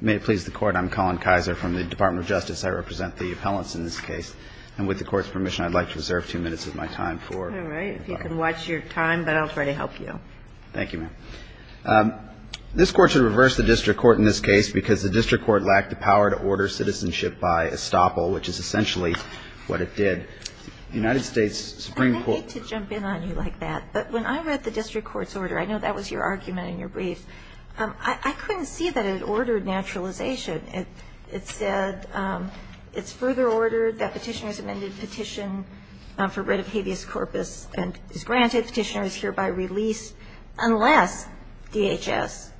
May it please the Court, I'm Colin Kaiser from the Department of Justice. I represent the appellants in this case. And with the Court's permission, I'd like to reserve two minutes of my time for... All right, if you can watch your time, but I'll try to help you. Thank you, ma'am. This Court should reverse the District Court in this case because the District Court lacked the power to order citizenship by estoppel, which is essentially what it did. The United States Supreme Court... I hate to jump in on you like that, but when I read the District Court's order, I know that was your argument in your brief, I couldn't see that it ordered naturalization. It said, it's further ordered that petitioners amended petition for writ of habeas corpus and is granted petitioners hereby release unless DHS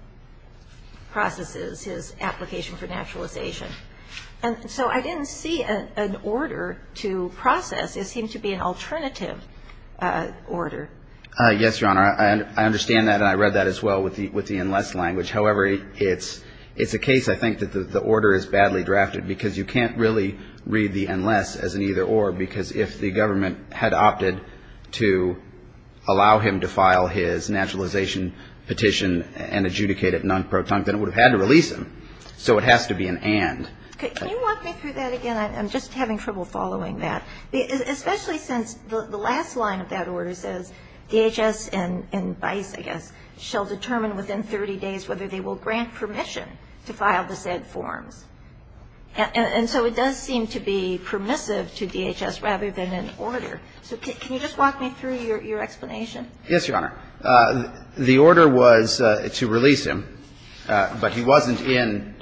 processes his application for naturalization. And so I didn't see an order to process. It seemed to be an alternative order. Yes, Your Honor. I understand that and I read that as well with the unless language. However, it's a case, I think, that the order is badly drafted because you can't really read the unless as an either or because if the government had opted to allow him to file his naturalization petition and adjudicate it non-proton, then it would have had to release him. So it has to be an and. Can you walk me through that again? I'm just having trouble following that. Especially since the last line of that order says DHS and BICE, I guess, shall determine within 30 days whether they will grant permission to file the said forms. And so it does seem to be permissive to DHS rather than an order. So can you just walk me through your explanation? Yes, Your Honor. The order was to release him, but he wasn't in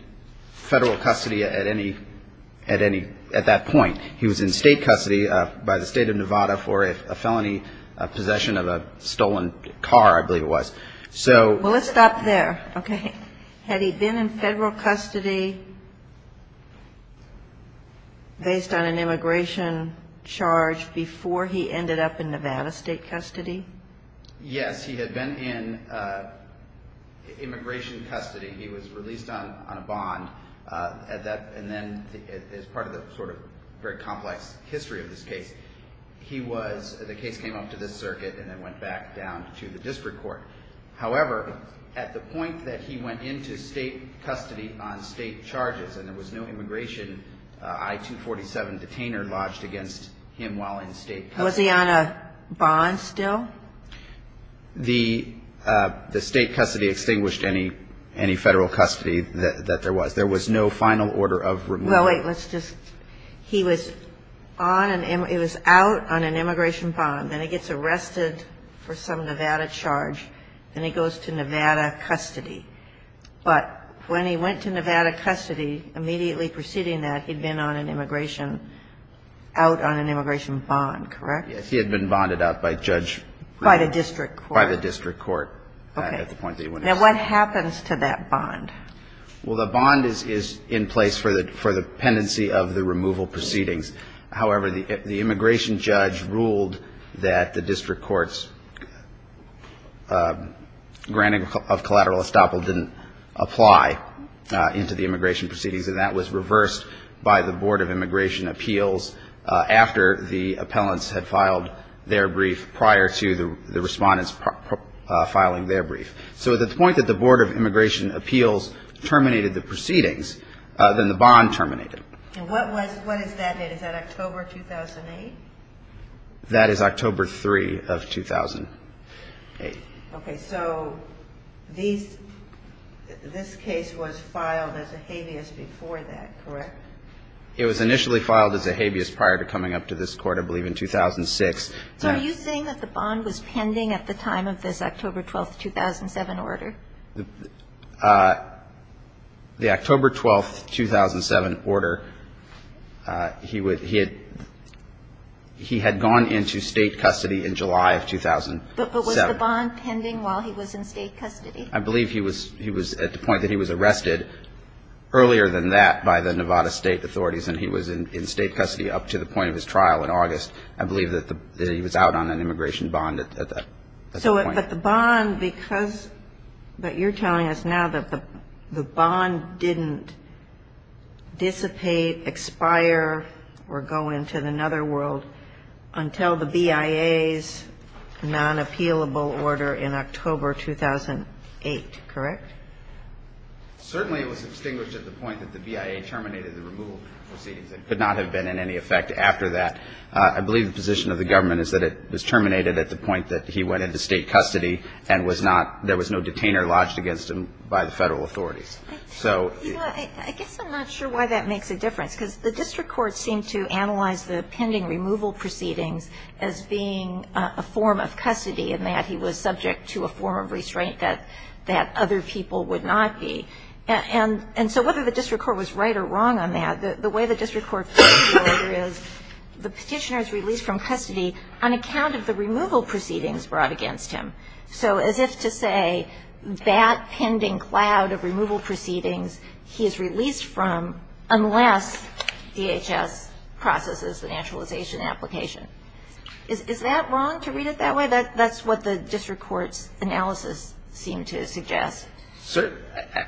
federal custody at any, at that point. He was in state custody by the State of Nevada for a felony possession of a stolen car, I believe it was. Well, let's stop there. Okay. Had he been in federal custody based on an immigration charge before he ended up in Nevada state custody? Yes, he had been in immigration custody. He was released on a bond. And then as part of the sort of very complex history of this case, he was, the case came up to this circuit and then went back down to the district court. However, at the point that he went into state custody on state charges and there was no immigration, I-247 detainer lodged against him while in state custody. Was he on a bond still? The state custody extinguished any federal custody that there was. There was no final order of removal. Well, wait, let's just, he was on an, it was out on an immigration bond. Then he gets arrested for some Nevada charge. Then he goes to Nevada custody. But when he went to Nevada custody, immediately preceding that, he'd been on an immigration, out on an immigration bond, correct? Yes, he had been bonded out by judge. By the district court? By the district court at the point that he went into state custody. Okay. Now what happens to that bond? Well, the bond is in place for the pendency of the removal proceedings. However, the immigration judge ruled that the district court's granting of collateral estoppel didn't apply into the immigration proceedings. And that was reversed by the Board of Immigration Appeals after the appellants had filed their brief prior to the respondents filing their brief. So at the point that the Board of Immigration Appeals terminated the proceedings, then the bond terminated. And what was, what is that date? Is that October 2008? That is October 3 of 2008. Okay, so these, this case was filed as a habeas before that, correct? It was initially filed as a habeas prior to coming up to this court, I believe, in 2006. So are you saying that the bond was pending at the time of this October 12, 2007 order? The October 12, 2007 order, he would, he had, he had gone into state custody in July of 2007. But was the bond pending while he was in state custody? I believe he was, he was at the point that he was arrested earlier than that by the Nevada State Authorities and he was in state custody up to the point of his trial in August. I believe that he was out on an immigration bond at that point. But the bond, because, but you're telling us now that the bond didn't dissipate, expire, or go into another world until the BIA's non-appealable order in October 2008, correct? Certainly it was extinguished at the point that the BIA terminated the removal proceedings. It could not have been in any effect after that. I believe the position of the government is that it was terminated at the point that he went into state custody and was not, there was no detainer lodged against him by the federal authorities. I guess I'm not sure why that makes a difference. Because the district court seemed to analyze the pending removal proceedings as being a form of custody and that he was subject to a form of restraint that other people would not be. And so whether the district court was right or wrong on that, the way the district court feels is the petitioner is released from custody on account of the removal proceedings brought against him. So as if to say that pending cloud of removal proceedings he is released from unless DHS processes the naturalization application. Is that wrong to read it that way? That's what the district court's analysis seemed to suggest. So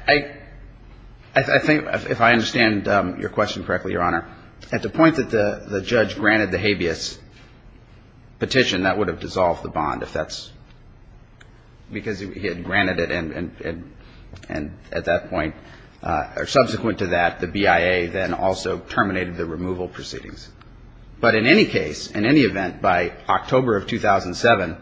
I think if I understand your question correctly, Your Honor, at the point that the judge granted the habeas petition, that would have dissolved the bond if that's, because he had granted it and at that point, or subsequent to that, the BIA then also terminated the removal proceedings. But in any case, in any event, by October of 2007,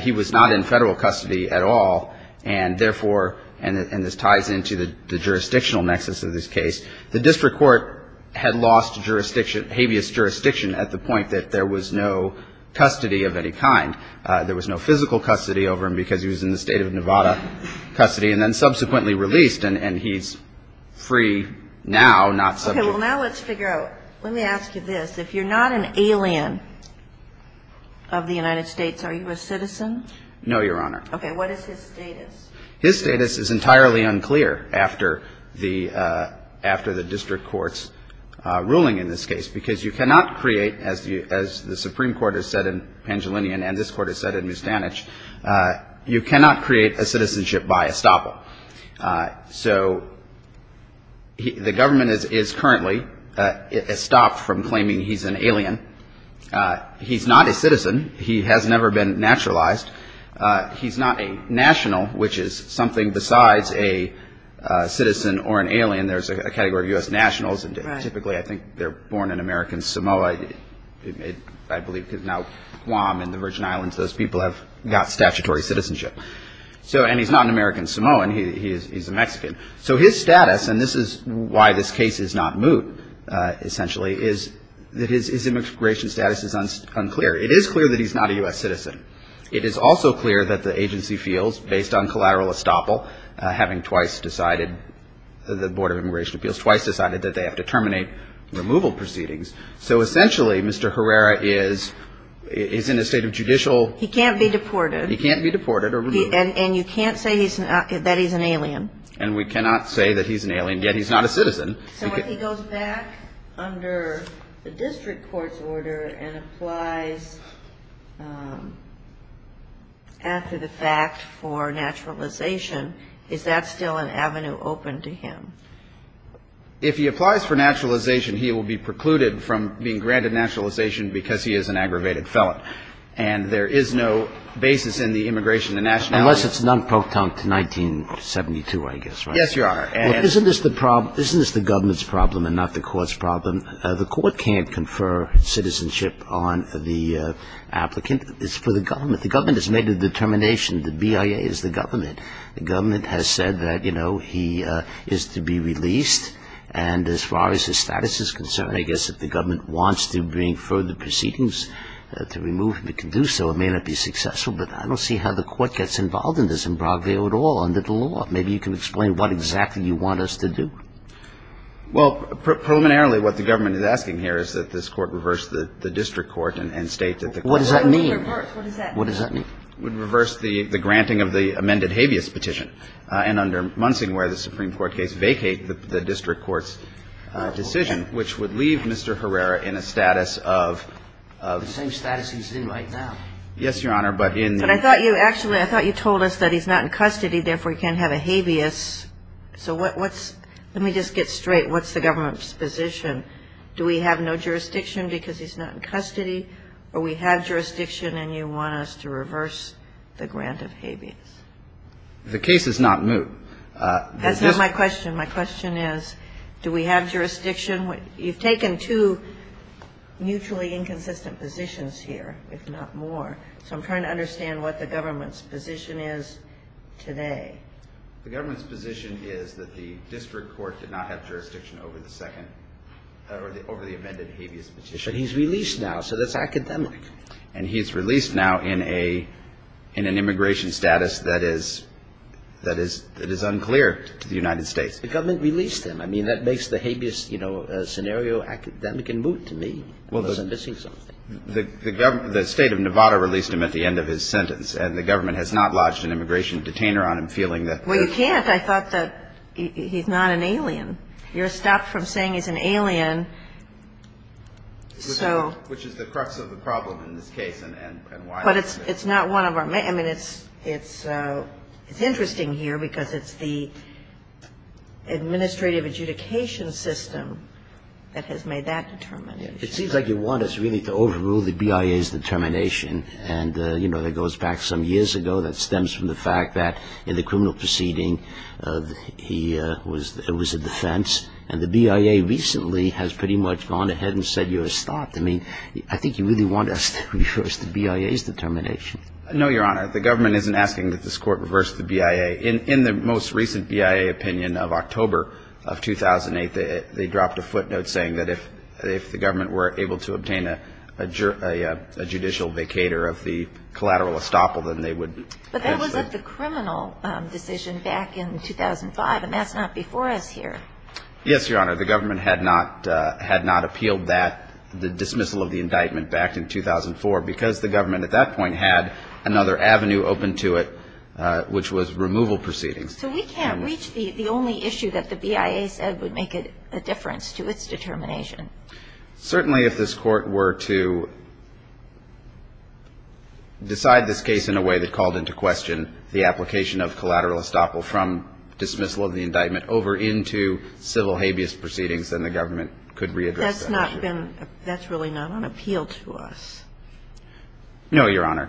he was not in federal custody at all, and therefore, and this ties into the jurisdictional nexus of this case, the district court had lost jurisdiction, habeas jurisdiction at the point that there was no custody of any kind. There was no physical custody over him because he was in the state of Nevada custody and then subsequently released and he's free now, not subject. Okay, well, now let's figure out. Let me ask you this. If you're not an alien of the United States, are you a citizen? No, Your Honor. Okay, what is his status? His status is entirely unclear after the district court's ruling in this case because you cannot create, as the Supreme Court has said in Pangilinian and this Court has said in Mustanich, you cannot create a citizenship by estoppel. So the government is currently estopped from claiming he's an alien. He's not a citizen. He has never been naturalized. He's not a national, which is something besides a citizen or an alien. There's a category of U.S. nationals and typically, I think, they're born in American Samoa. I believe now Guam and the Virgin Islands, those people have got statutory citizenship. And he's not an American Samoan. He's a Mexican. So his status, and this is why this case is not moot essentially, is that his immigration status is unclear. It is clear that he's not a U.S. citizen. It is also clear that the agency feels, based on collateral estoppel, having twice decided, the Board of Immigration Appeals, twice decided that they have to terminate removal proceedings. So essentially, Mr. Herrera is in a state of judicial... He can't be deported. He can't be deported or removed. And you can't say that he's an alien. And we cannot say that he's an alien, yet he's not a citizen. So if he goes back under the district court's order and applies after the fact for naturalization, is that still an avenue open to him? If he applies for naturalization, he will be precluded from being granted naturalization because he is an aggravated felon. And there is no basis in the immigration and nationality... Unless it's non-proton 1972, I guess, right? Yes, Your Honor. Isn't this the government's problem and not the court's problem? The court can't confer citizenship on the applicant. It's for the government. The government has made a determination. The BIA is the government. The government has said that, you know, he is to be released. And as far as his status is concerned, I guess if the government wants to bring further proceedings to remove him, it can do so. It may not be successful, but I don't see how the court gets involved in this in Brockville at all under the law. Maybe you can explain what exactly you want us to do. Well, preliminarily what the government is asking here is that this court reverse the district court and state that the court... What does that mean? What does that mean? Would reverse the granting of the amended habeas petition and under Munsing where the Supreme Court case vacate the district court's decision, which would leave Mr. Herrera in a status of... The same status he's in right now. Yes, Your Honor, but in... But I thought you actually, I thought you told us that he's not in custody, therefore he can't have a habeas. So what's... Let me just get straight. What's the government's position? Do we have no jurisdiction because he's not in custody or we have jurisdiction and you want us to reverse the grant of habeas? The case is not new. That's not my question. My question is do we have jurisdiction? You've taken two mutually inconsistent positions here, if not more. So I'm trying to understand what the government's position is today. The government's position is that the district court did not have jurisdiction over the second, over the amended habeas petition. But he's released now, so that's academic. And he's released now in an immigration status that is unclear to the United States. The government released him. I mean, that makes the habeas scenario academic and moot to me. I'm missing something. The state of Nevada released him at the end of his sentence and the government has not lodged an immigration detainer on him feeling that... Well, you can't. I thought that he's not an alien. You're stopped from saying he's an alien, so... Which is the crux of the problem in this case and why... But it's not one of our... I mean, it's interesting here because it's the administrative adjudication system that has made that determination. It seems like you want us really to overrule the BIA's determination and, you know, that goes back some years ago. That stems from the fact that in the criminal proceeding he was a defense and the BIA recently has pretty much gone ahead and said you're stopped. I mean, I think you really want us to reverse the BIA's determination. No, Your Honor. The government isn't asking that this court reverse the BIA. In the most recent BIA opinion of October of 2008, they dropped a footnote saying that if the government were able to obtain a judicial vacater of the collateral estoppel, then they would... But that was the criminal decision back in 2005 and that's not before us here. Yes, Your Honor. The government had not appealed that, the dismissal of the indictment back in 2004 because the government at that point had another avenue open to it which was removal proceedings. So we can't reach the only issue that the BIA said would make a difference to its determination. Certainly if this court were to decide this case in a way that called into question the application of collateral estoppel from dismissal of the indictment over into civil habeas proceedings, then the government could readdress that issue. That's not been, that's really not on appeal to us. No, Your Honor.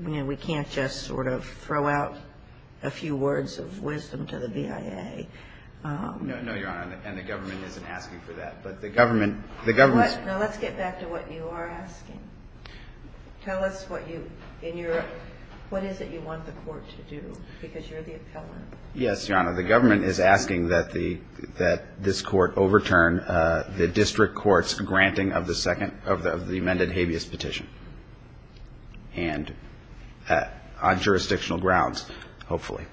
We can't just sort of throw out a few words of wisdom to the BIA. No, Your Honor. And the government isn't asking for that. But the government... Let's get back to what you are asking. Tell us what you, in your, what is it you want the court to do? Because you're the appellant. Yes, Your Honor. The government is asking that this court overturn the district court's granting of the second, of the amended habeas petition. And on jurisdictional grounds, hopefully.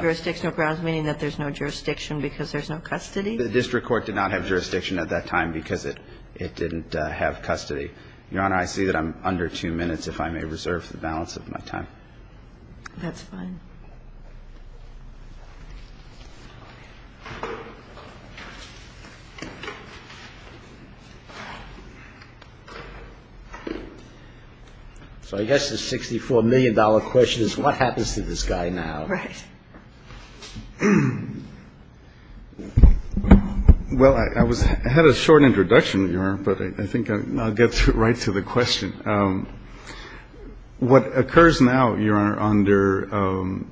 Jurisdictional grounds meaning that there's no jurisdiction because there's no custody? The district court did not have jurisdiction at that time because it didn't have custody. Your Honor, I see that I'm under two minutes, if I may reserve the balance of my time. That's fine. So I guess the $64 million question is what happens to this guy now? Right. Well, I had a short introduction, Your Honor, but I think I'll get right to the question. What occurs now, Your Honor, under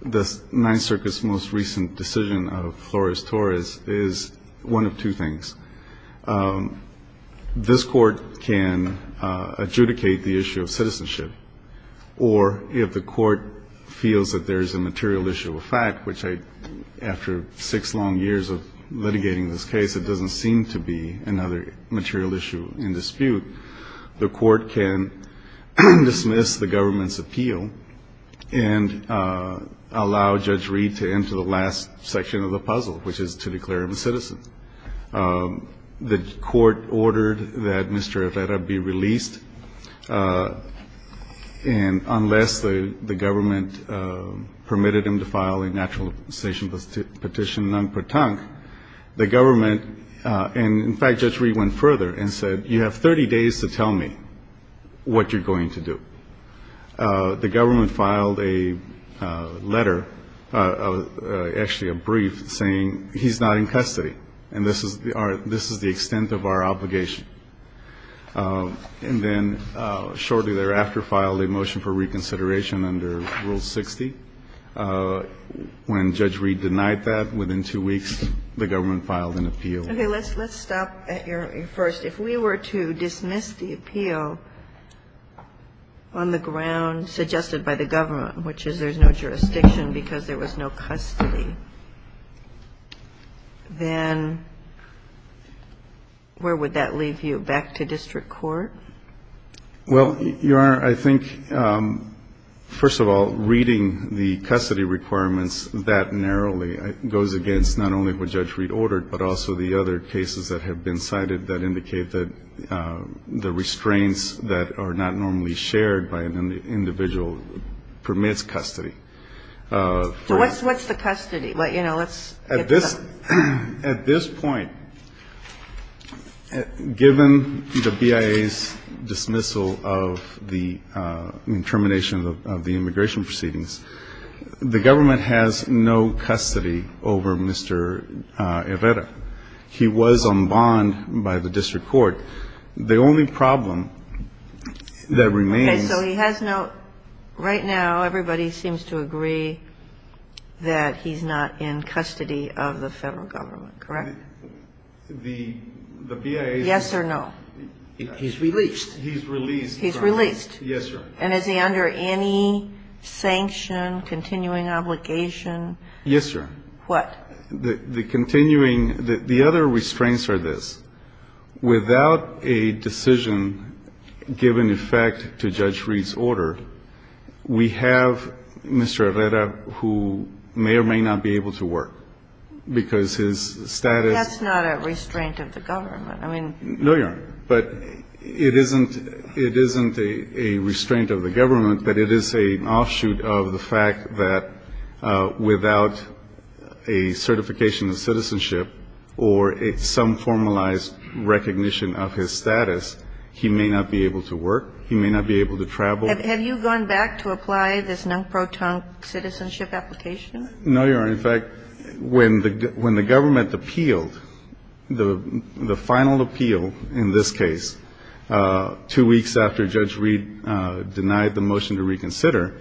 the Ninth Circuit's most recent decision of Flores-Torres is one of two things. This court can adjudicate the issue of citizenship. Or if the court feels that there's a material issue of fact, which I, after six long years of litigating this case, it doesn't seem to be another material issue in dispute, the court can dismiss the government's appeal and allow Judge Reed to enter the last section of the puzzle, which is to declare him a citizen. The court ordered that Mr. Arreta be released. And unless the government permitted him to file a naturalization petition non-pertinct, the government, and in fact, Judge Reed went further and said, you have 30 days to tell me what you're going to do. The government filed a letter, actually a brief, saying he's not in custody. And this is the extent of our obligation. And then shortly thereafter filed a motion for reconsideration under Rule 60. When Judge Reed denied that, within two weeks, the government filed an appeal. Okay, let's stop at your first. If we were to dismiss the appeal on the ground suggested by the government, which is there's no jurisdiction because there was no custody, then where would that leave you? Back to district court? Well, Your Honor, I think, first of all, reading the custody requirements that narrowly, goes against not only what Judge Reed ordered, but also the other cases that have been cited that indicate that the restraints that are not normally shared by an individual permits custody. So what's the custody? At this point, given the BIA's dismissal of the termination of the immigration proceedings, the government has no custody over Mr. Herrera. He was on bond by the district court. The only problem that remains... Okay, so he has no... Right now, everybody seems to agree that he's not in custody of the federal government, correct? The BIA... Yes or no? He's released. He's released. He's released. Yes, Your Honor. And is he under any sanction, continuing obligation? Yes, Your Honor. What? The continuing... The other restraints are this. Without a decision given in fact to Judge Reed's order, we have Mr. Herrera who may or may not be able to work because his status... That's not a restraint of the government. No, Your Honor. But it isn't a restraint of the government, but it is an offshoot of the fact that without a certification of citizenship or some formalized recognition of his status, he may not be able to work. He may not be able to travel. Have you gone back to apply this non-proton citizenship application? No, Your Honor. In fact, when the government appealed the final appeal in this case two weeks after Judge Reed denied the motion to reconsider,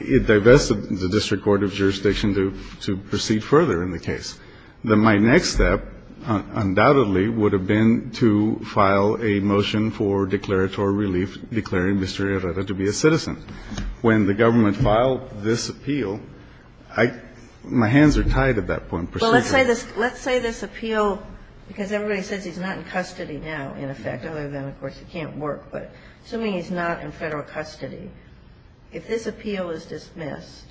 it divested the District Court of Jurisdiction to proceed further in the case. My next step undoubtedly would have been to file a motion for declaratory relief, but when the government filed this appeal, my hands are tied at that point. Well, let's say this appeal, because everybody says he's not in custody now, in effect, other than, of course, he can't work. But assuming he's not in Federal custody, if this appeal is dismissed,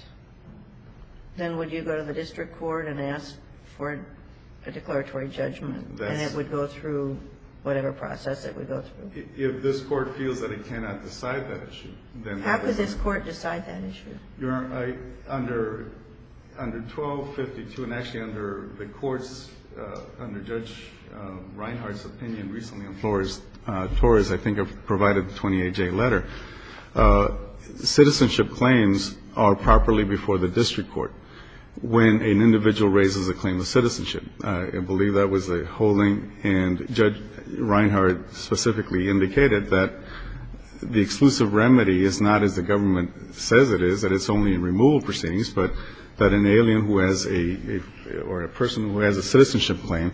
then would you go to the District Court and ask for a declaratory judgment, and it would go through whatever process it would go through? If this Court feels that it cannot decide that issue, how could this Court decide that issue? Your Honor, under 1252, and actually under the courts, under Judge Reinhardt's opinion recently on Flores, Flores, I think, provided the 28-J letter, citizenship claims are properly before the District Court when an individual raises a claim of citizenship. I believe that was a holding, and Judge Reinhardt specifically indicated that the exclusive remedy is not, as the government says it is, that it's only in removal proceedings, but that an alien who has a, or a person who has a citizenship claim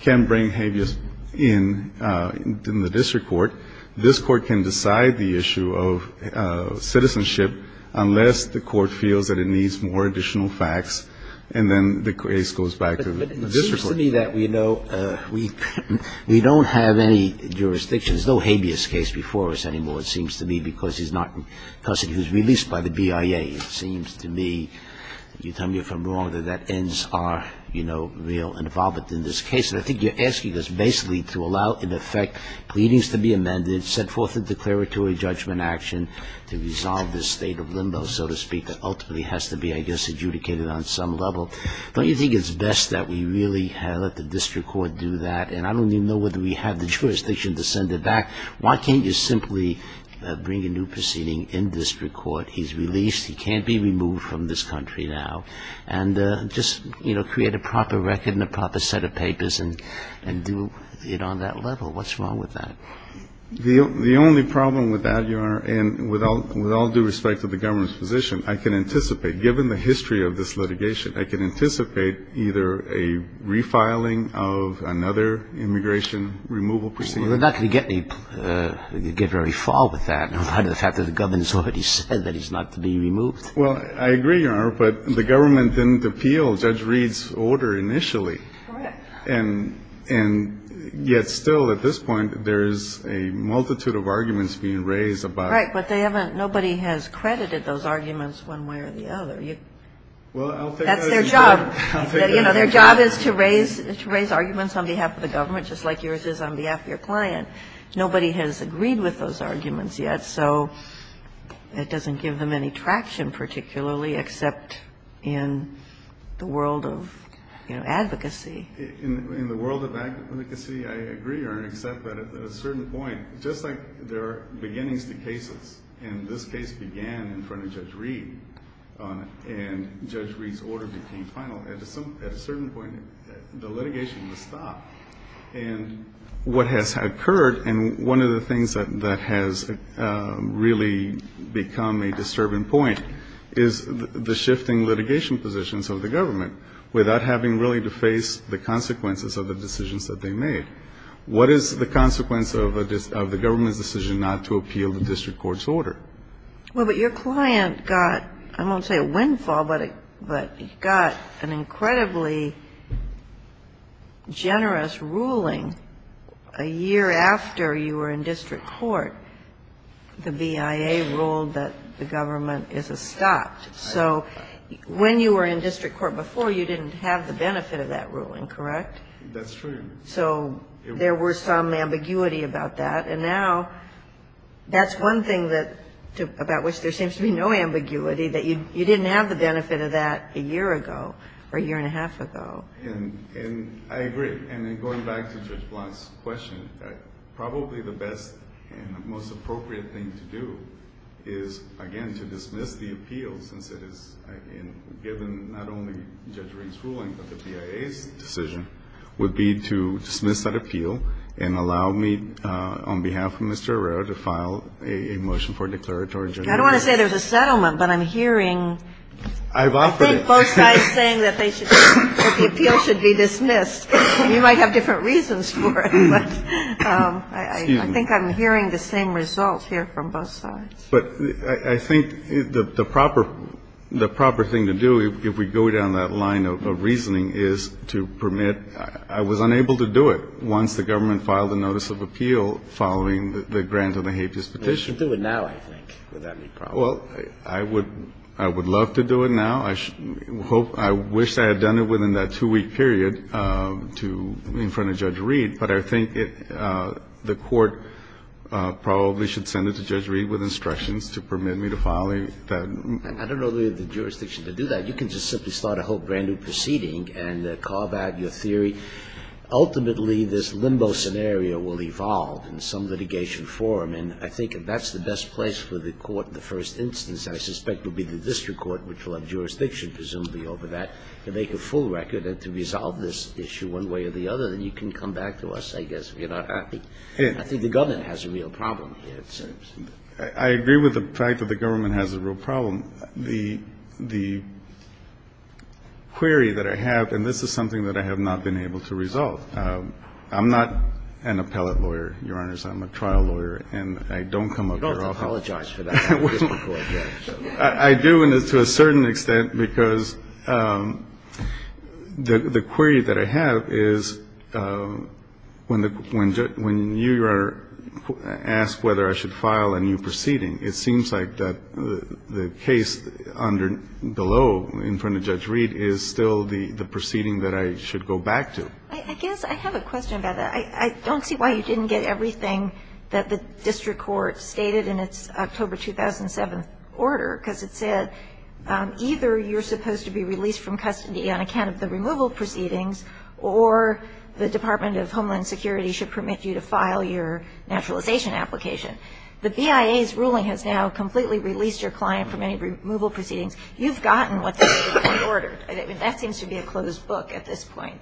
can bring habeas in the District Court. This Court can decide the issue of citizenship unless the Court feels that it needs more additional facts, and then the case goes back to the District Court. It seems to me that we don't have any jurisdiction, there's no habeas case before us anymore, it seems to me, because he's not in custody, he was released by the BIA. It seems to me, you tell me if I'm wrong, that that ends our, you know, real involvement in this case. And I think you're asking us basically to allow, in effect, pleadings to be amended, send forth a declaratory judgment action to resolve this state of limbo, so to speak, that ultimately has to be, I guess, adjudicated on some level. Don't you think it's best that we really let the District Court do that? And I don't even know whether we have the jurisdiction to send it back. Why can't you simply bring a new proceeding in District Court? He's released, he can't be removed from this country now. And just, you know, create a proper record and a proper set of papers and do it on that level. What's wrong with that? The only problem with that, Your Honor, and with all due respect to the government's position, I can anticipate, given the history of this litigation, I can anticipate either a refiling of another immigration removal proceeding. We're not going to get any, get very far with that in light of the fact that the government's already said that he's not to be removed. Well, I agree, Your Honor, but the government didn't appeal Judge Reed's order initially. Correct. And yet still, at this point, there's a multitude of arguments being raised about it. Right, but they haven't, nobody has credited those arguments one way or the other. That's their job. Their job is to raise arguments on behalf of the government, just like yours is on behalf of your client. Nobody has agreed with those arguments yet, so it doesn't give them any traction particularly, except in the world of advocacy. In the world of advocacy, I agree, Your Honor, except that at a certain point, just like there are beginnings to cases, and this case began in front of Judge Reed, and Judge Reed's order became final, at a certain point, the litigation was stopped. And what has occurred, and one of the things that has really become a disturbing point, is the shifting litigation positions of the government, without having really to face the consequences of the decisions that they made. What is the consequence of the government's decision not to appeal the district court's order? Well, but your client got, I won't say a windfall, but got an incredibly generous ruling a year after you were in district court. The BIA ruled that the government is stopped. So when you were in district court before, you didn't have the benefit of that ruling, correct? That's true. So there was some ambiguity about that. And now, that's one thing about which there seems to be no ambiguity, that you didn't have the benefit of that a year ago, or a year and a half ago. And I agree. And in going back to Judge Blanc's question, probably the best and most appropriate thing to do is, again, to dismiss the appeal, since it is given not only Judge Reed's ruling, but the BIA's decision, would be to dismiss that appeal and allow me, on behalf of Mr. Herrera, to file a motion for declaratory judgment. I don't want to say there's a settlement, but I'm hearing both sides saying that the appeal should be dismissed. You might have different reasons for it, but I think I'm hearing the same result here from both sides. But I think the proper thing to do, if we go down that line of reasoning, is to permit. I was unable to do it once the government filed a notice of appeal following the grant of the habeas petition. You should do it now, I think. Would that be proper? Well, I would love to do it now. I wish I had done it within that two-week period in front of Judge Reed. But I think the court probably should send it to Judge Reed with instructions to permit me to file that. I don't know the jurisdiction to do that. You can just simply start a whole brand-new proceeding and carve out your theory. Ultimately, this limbo scenario will evolve in some litigation form, and I think if that's the best place for the court in the first instance, I suspect it will be the district court, which will have jurisdiction, presumably, over that, to make a full record and to resolve this issue one way or the other. I think the government has a real problem here, it seems. I agree with the fact that the government has a real problem. The query that I have, and this is something that I have not been able to resolve. I'm not an appellate lawyer, Your Honors. I'm a trial lawyer, and I don't come up here often. You don't have to apologize for that in the district court, then. I do, and to a certain extent, because the query that I have is, when you ask whether I should file a new proceeding, it seems like the case below, in front of Judge Reed, is still the proceeding that I should go back to. I guess I have a question about that. I don't see why you didn't get everything that the district court stated in its October 2007 order, because it said either you're supposed to be released from custody on account of the removal proceedings, or the Department of Homeland Security should permit you to file your naturalization application. The BIA's ruling has now completely released your client from any removal proceedings. You've gotten what the district court ordered. That seems to be a closed book at this point.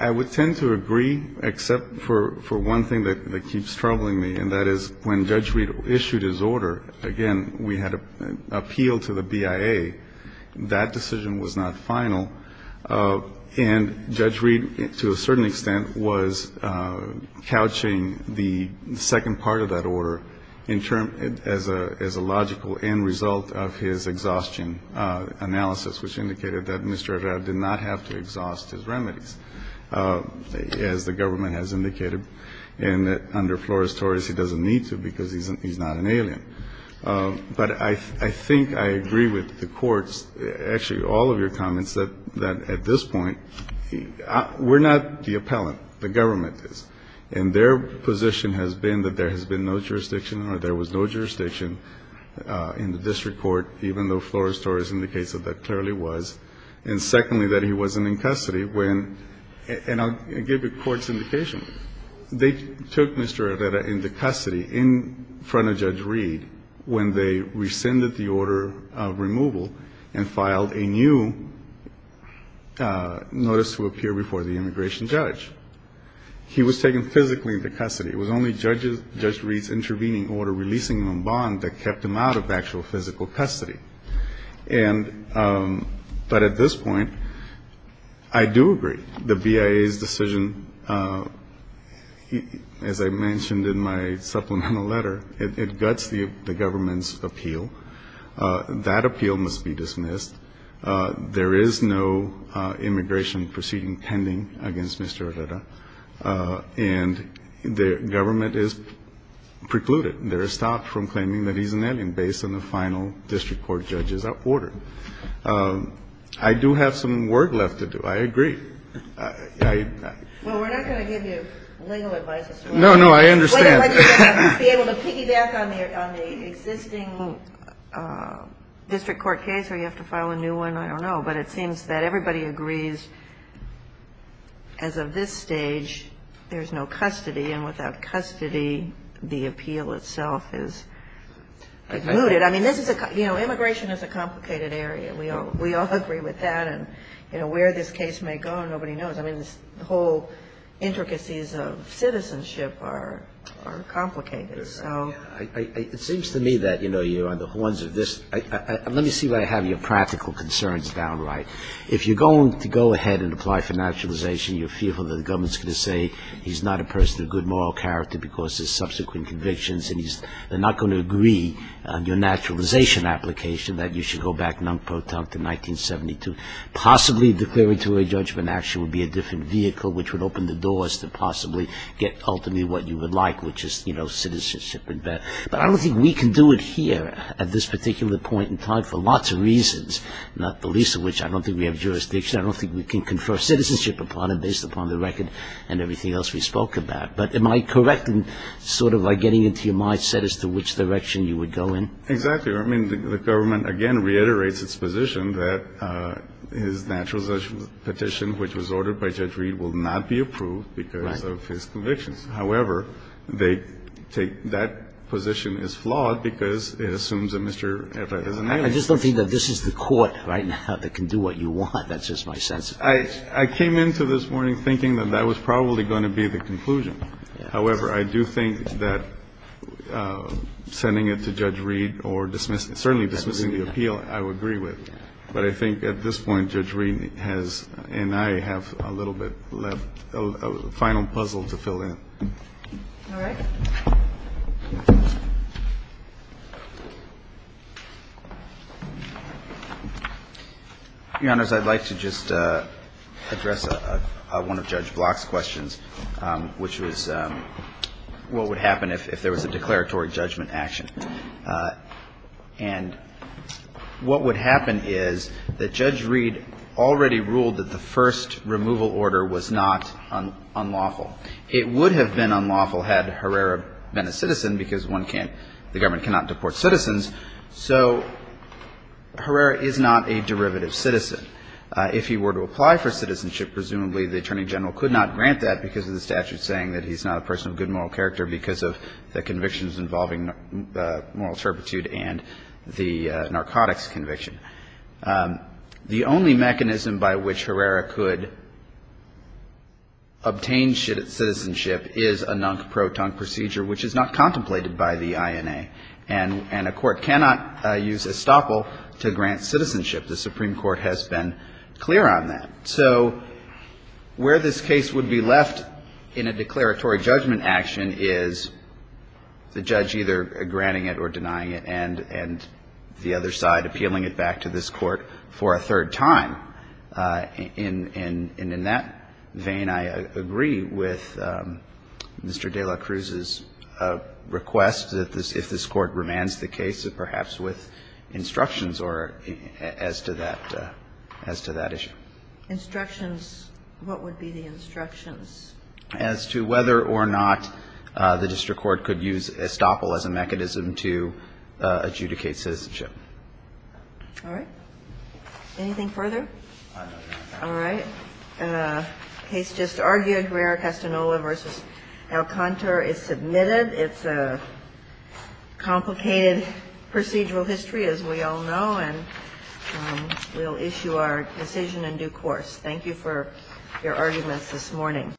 I would tend to agree, except for one thing that keeps troubling me, and that is when Judge Reed issued his order, again, we had an appeal to the BIA. That decision was not final. And Judge Reed, to a certain extent, was couching the second part of that order in term, as a logical end result of his exhaustion analysis, which indicated that Mr. Evrado did not have to exhaust his remedies, as the government has indicated, and that under Flores-Torres, he doesn't need to because he's not an alien. But I think I agree with the courts, actually all of your comments, that at this point, we're not the appellant, the government is. And their position has been that there has been no jurisdiction, or there was no jurisdiction in the district court, even though Flores-Torres indicates that there clearly was. And secondly, that he wasn't in custody when, and I'll give the courts indication, they took Mr. Evrado into custody in front of Judge Reed when they rescinded the order of removal and filed a new notice to appear before the immigration judge. He was taken physically into custody. It was only Judge Reed's intervening order releasing him on bond that kept him out of actual physical custody. And, but at this point, I do agree. The BIA's decision, as I mentioned in my supplemental letter, it guts the government's appeal. That appeal must be dismissed. There is no immigration proceeding pending against Mr. Evrado. And the government is precluded. They're stopped from claiming that he's an alien based on the final district court judges that ordered. I do have some work left to do. I agree. I... Kagan. Well, we're not going to give you legal advice. No, no, I understand. We'll be able to piggyback on the existing district court case or you have to file a new one, I don't know. But it seems that everybody agrees as of this stage, there's no custody. And without custody, the appeal itself is mooted. I mean, this is a, you know, immigration is a complicated area. We all agree with that. And, you know, where this case may go, nobody knows. I mean, the whole intricacies of citizenship are complicated. So... It seems to me that, you know, you're on the horns of this. Let me see where I have your practical concerns downright. If you're going to go ahead and apply for naturalization, you're fearful that the government's going to say he's not a person of good moral character because of his subsequent convictions. They're not going to agree on your naturalization application that you should go back non-potent in 1972. Possibly declaring to a judgment action would be a different vehicle which would open the doors to possibly get ultimately what you would like, which is, you know, citizenship. But I don't think we can do it here at this particular point in time for lots of reasons, not the least of which I don't think we have jurisdiction. I don't think we can confer citizenship upon it based upon the record and everything else we spoke about. But am I correct in sort of getting into your mindset as to which direction you would go in? Exactly. I mean, the government, again, reiterates its position that his naturalization petition, which was ordered by Judge Reed, will not be approved because of his convictions. However, they take that position as flawed because it assumes that Mr. Everett is an alien. I just don't think that this is the court right now that can do what you want. That's just my sense. I came into this morning thinking that that was probably going to be the conclusion. However, I do think that sending it to Judge Reed or certainly dismissing the appeal, I would agree with. But I think at this point, Judge Reed and I have a little bit left, a final puzzle to fill in. All right. Your Honors, I'd like to just address one of Judge Block's questions, which was what would happen if there was a declaratory judgment action. And what would happen is that Judge Reed already ruled that the first removal order was not unlawful. It would have been unlawful had Herrera been a citizen because the government cannot deport citizens. So Herrera is not a derivative citizen. If he were to apply for citizenship, presumably the Attorney General could not grant that because of the statute saying that he's not a person of good moral character because of the convictions involving moral turpitude and the narcotics conviction. The only mechanism by which Herrera could obtain citizenship is a non-caproton procedure, which is not contemplated by the INA. And a court cannot use estoppel to grant citizenship. The Supreme Court has been clear on that. So where this case would be left in a declaratory judgment action is the judge either granting it or denying it and the other side appealing it back to this court for a third time. And in that vein, I agree with Mr. de la Cruz's request that if this court remands the case, perhaps with instructions as to that issue. Instructions? What would be the instructions? As to whether or not the district court could use estoppel as a mechanism to adjudicate citizenship. All right. Anything further? All right. The case just argued, Herrera-Castaneda v. Alcantara is submitted. It's a complicated procedural history, as we all know, and we'll issue our decision in due course. Thank you for your arguments this morning.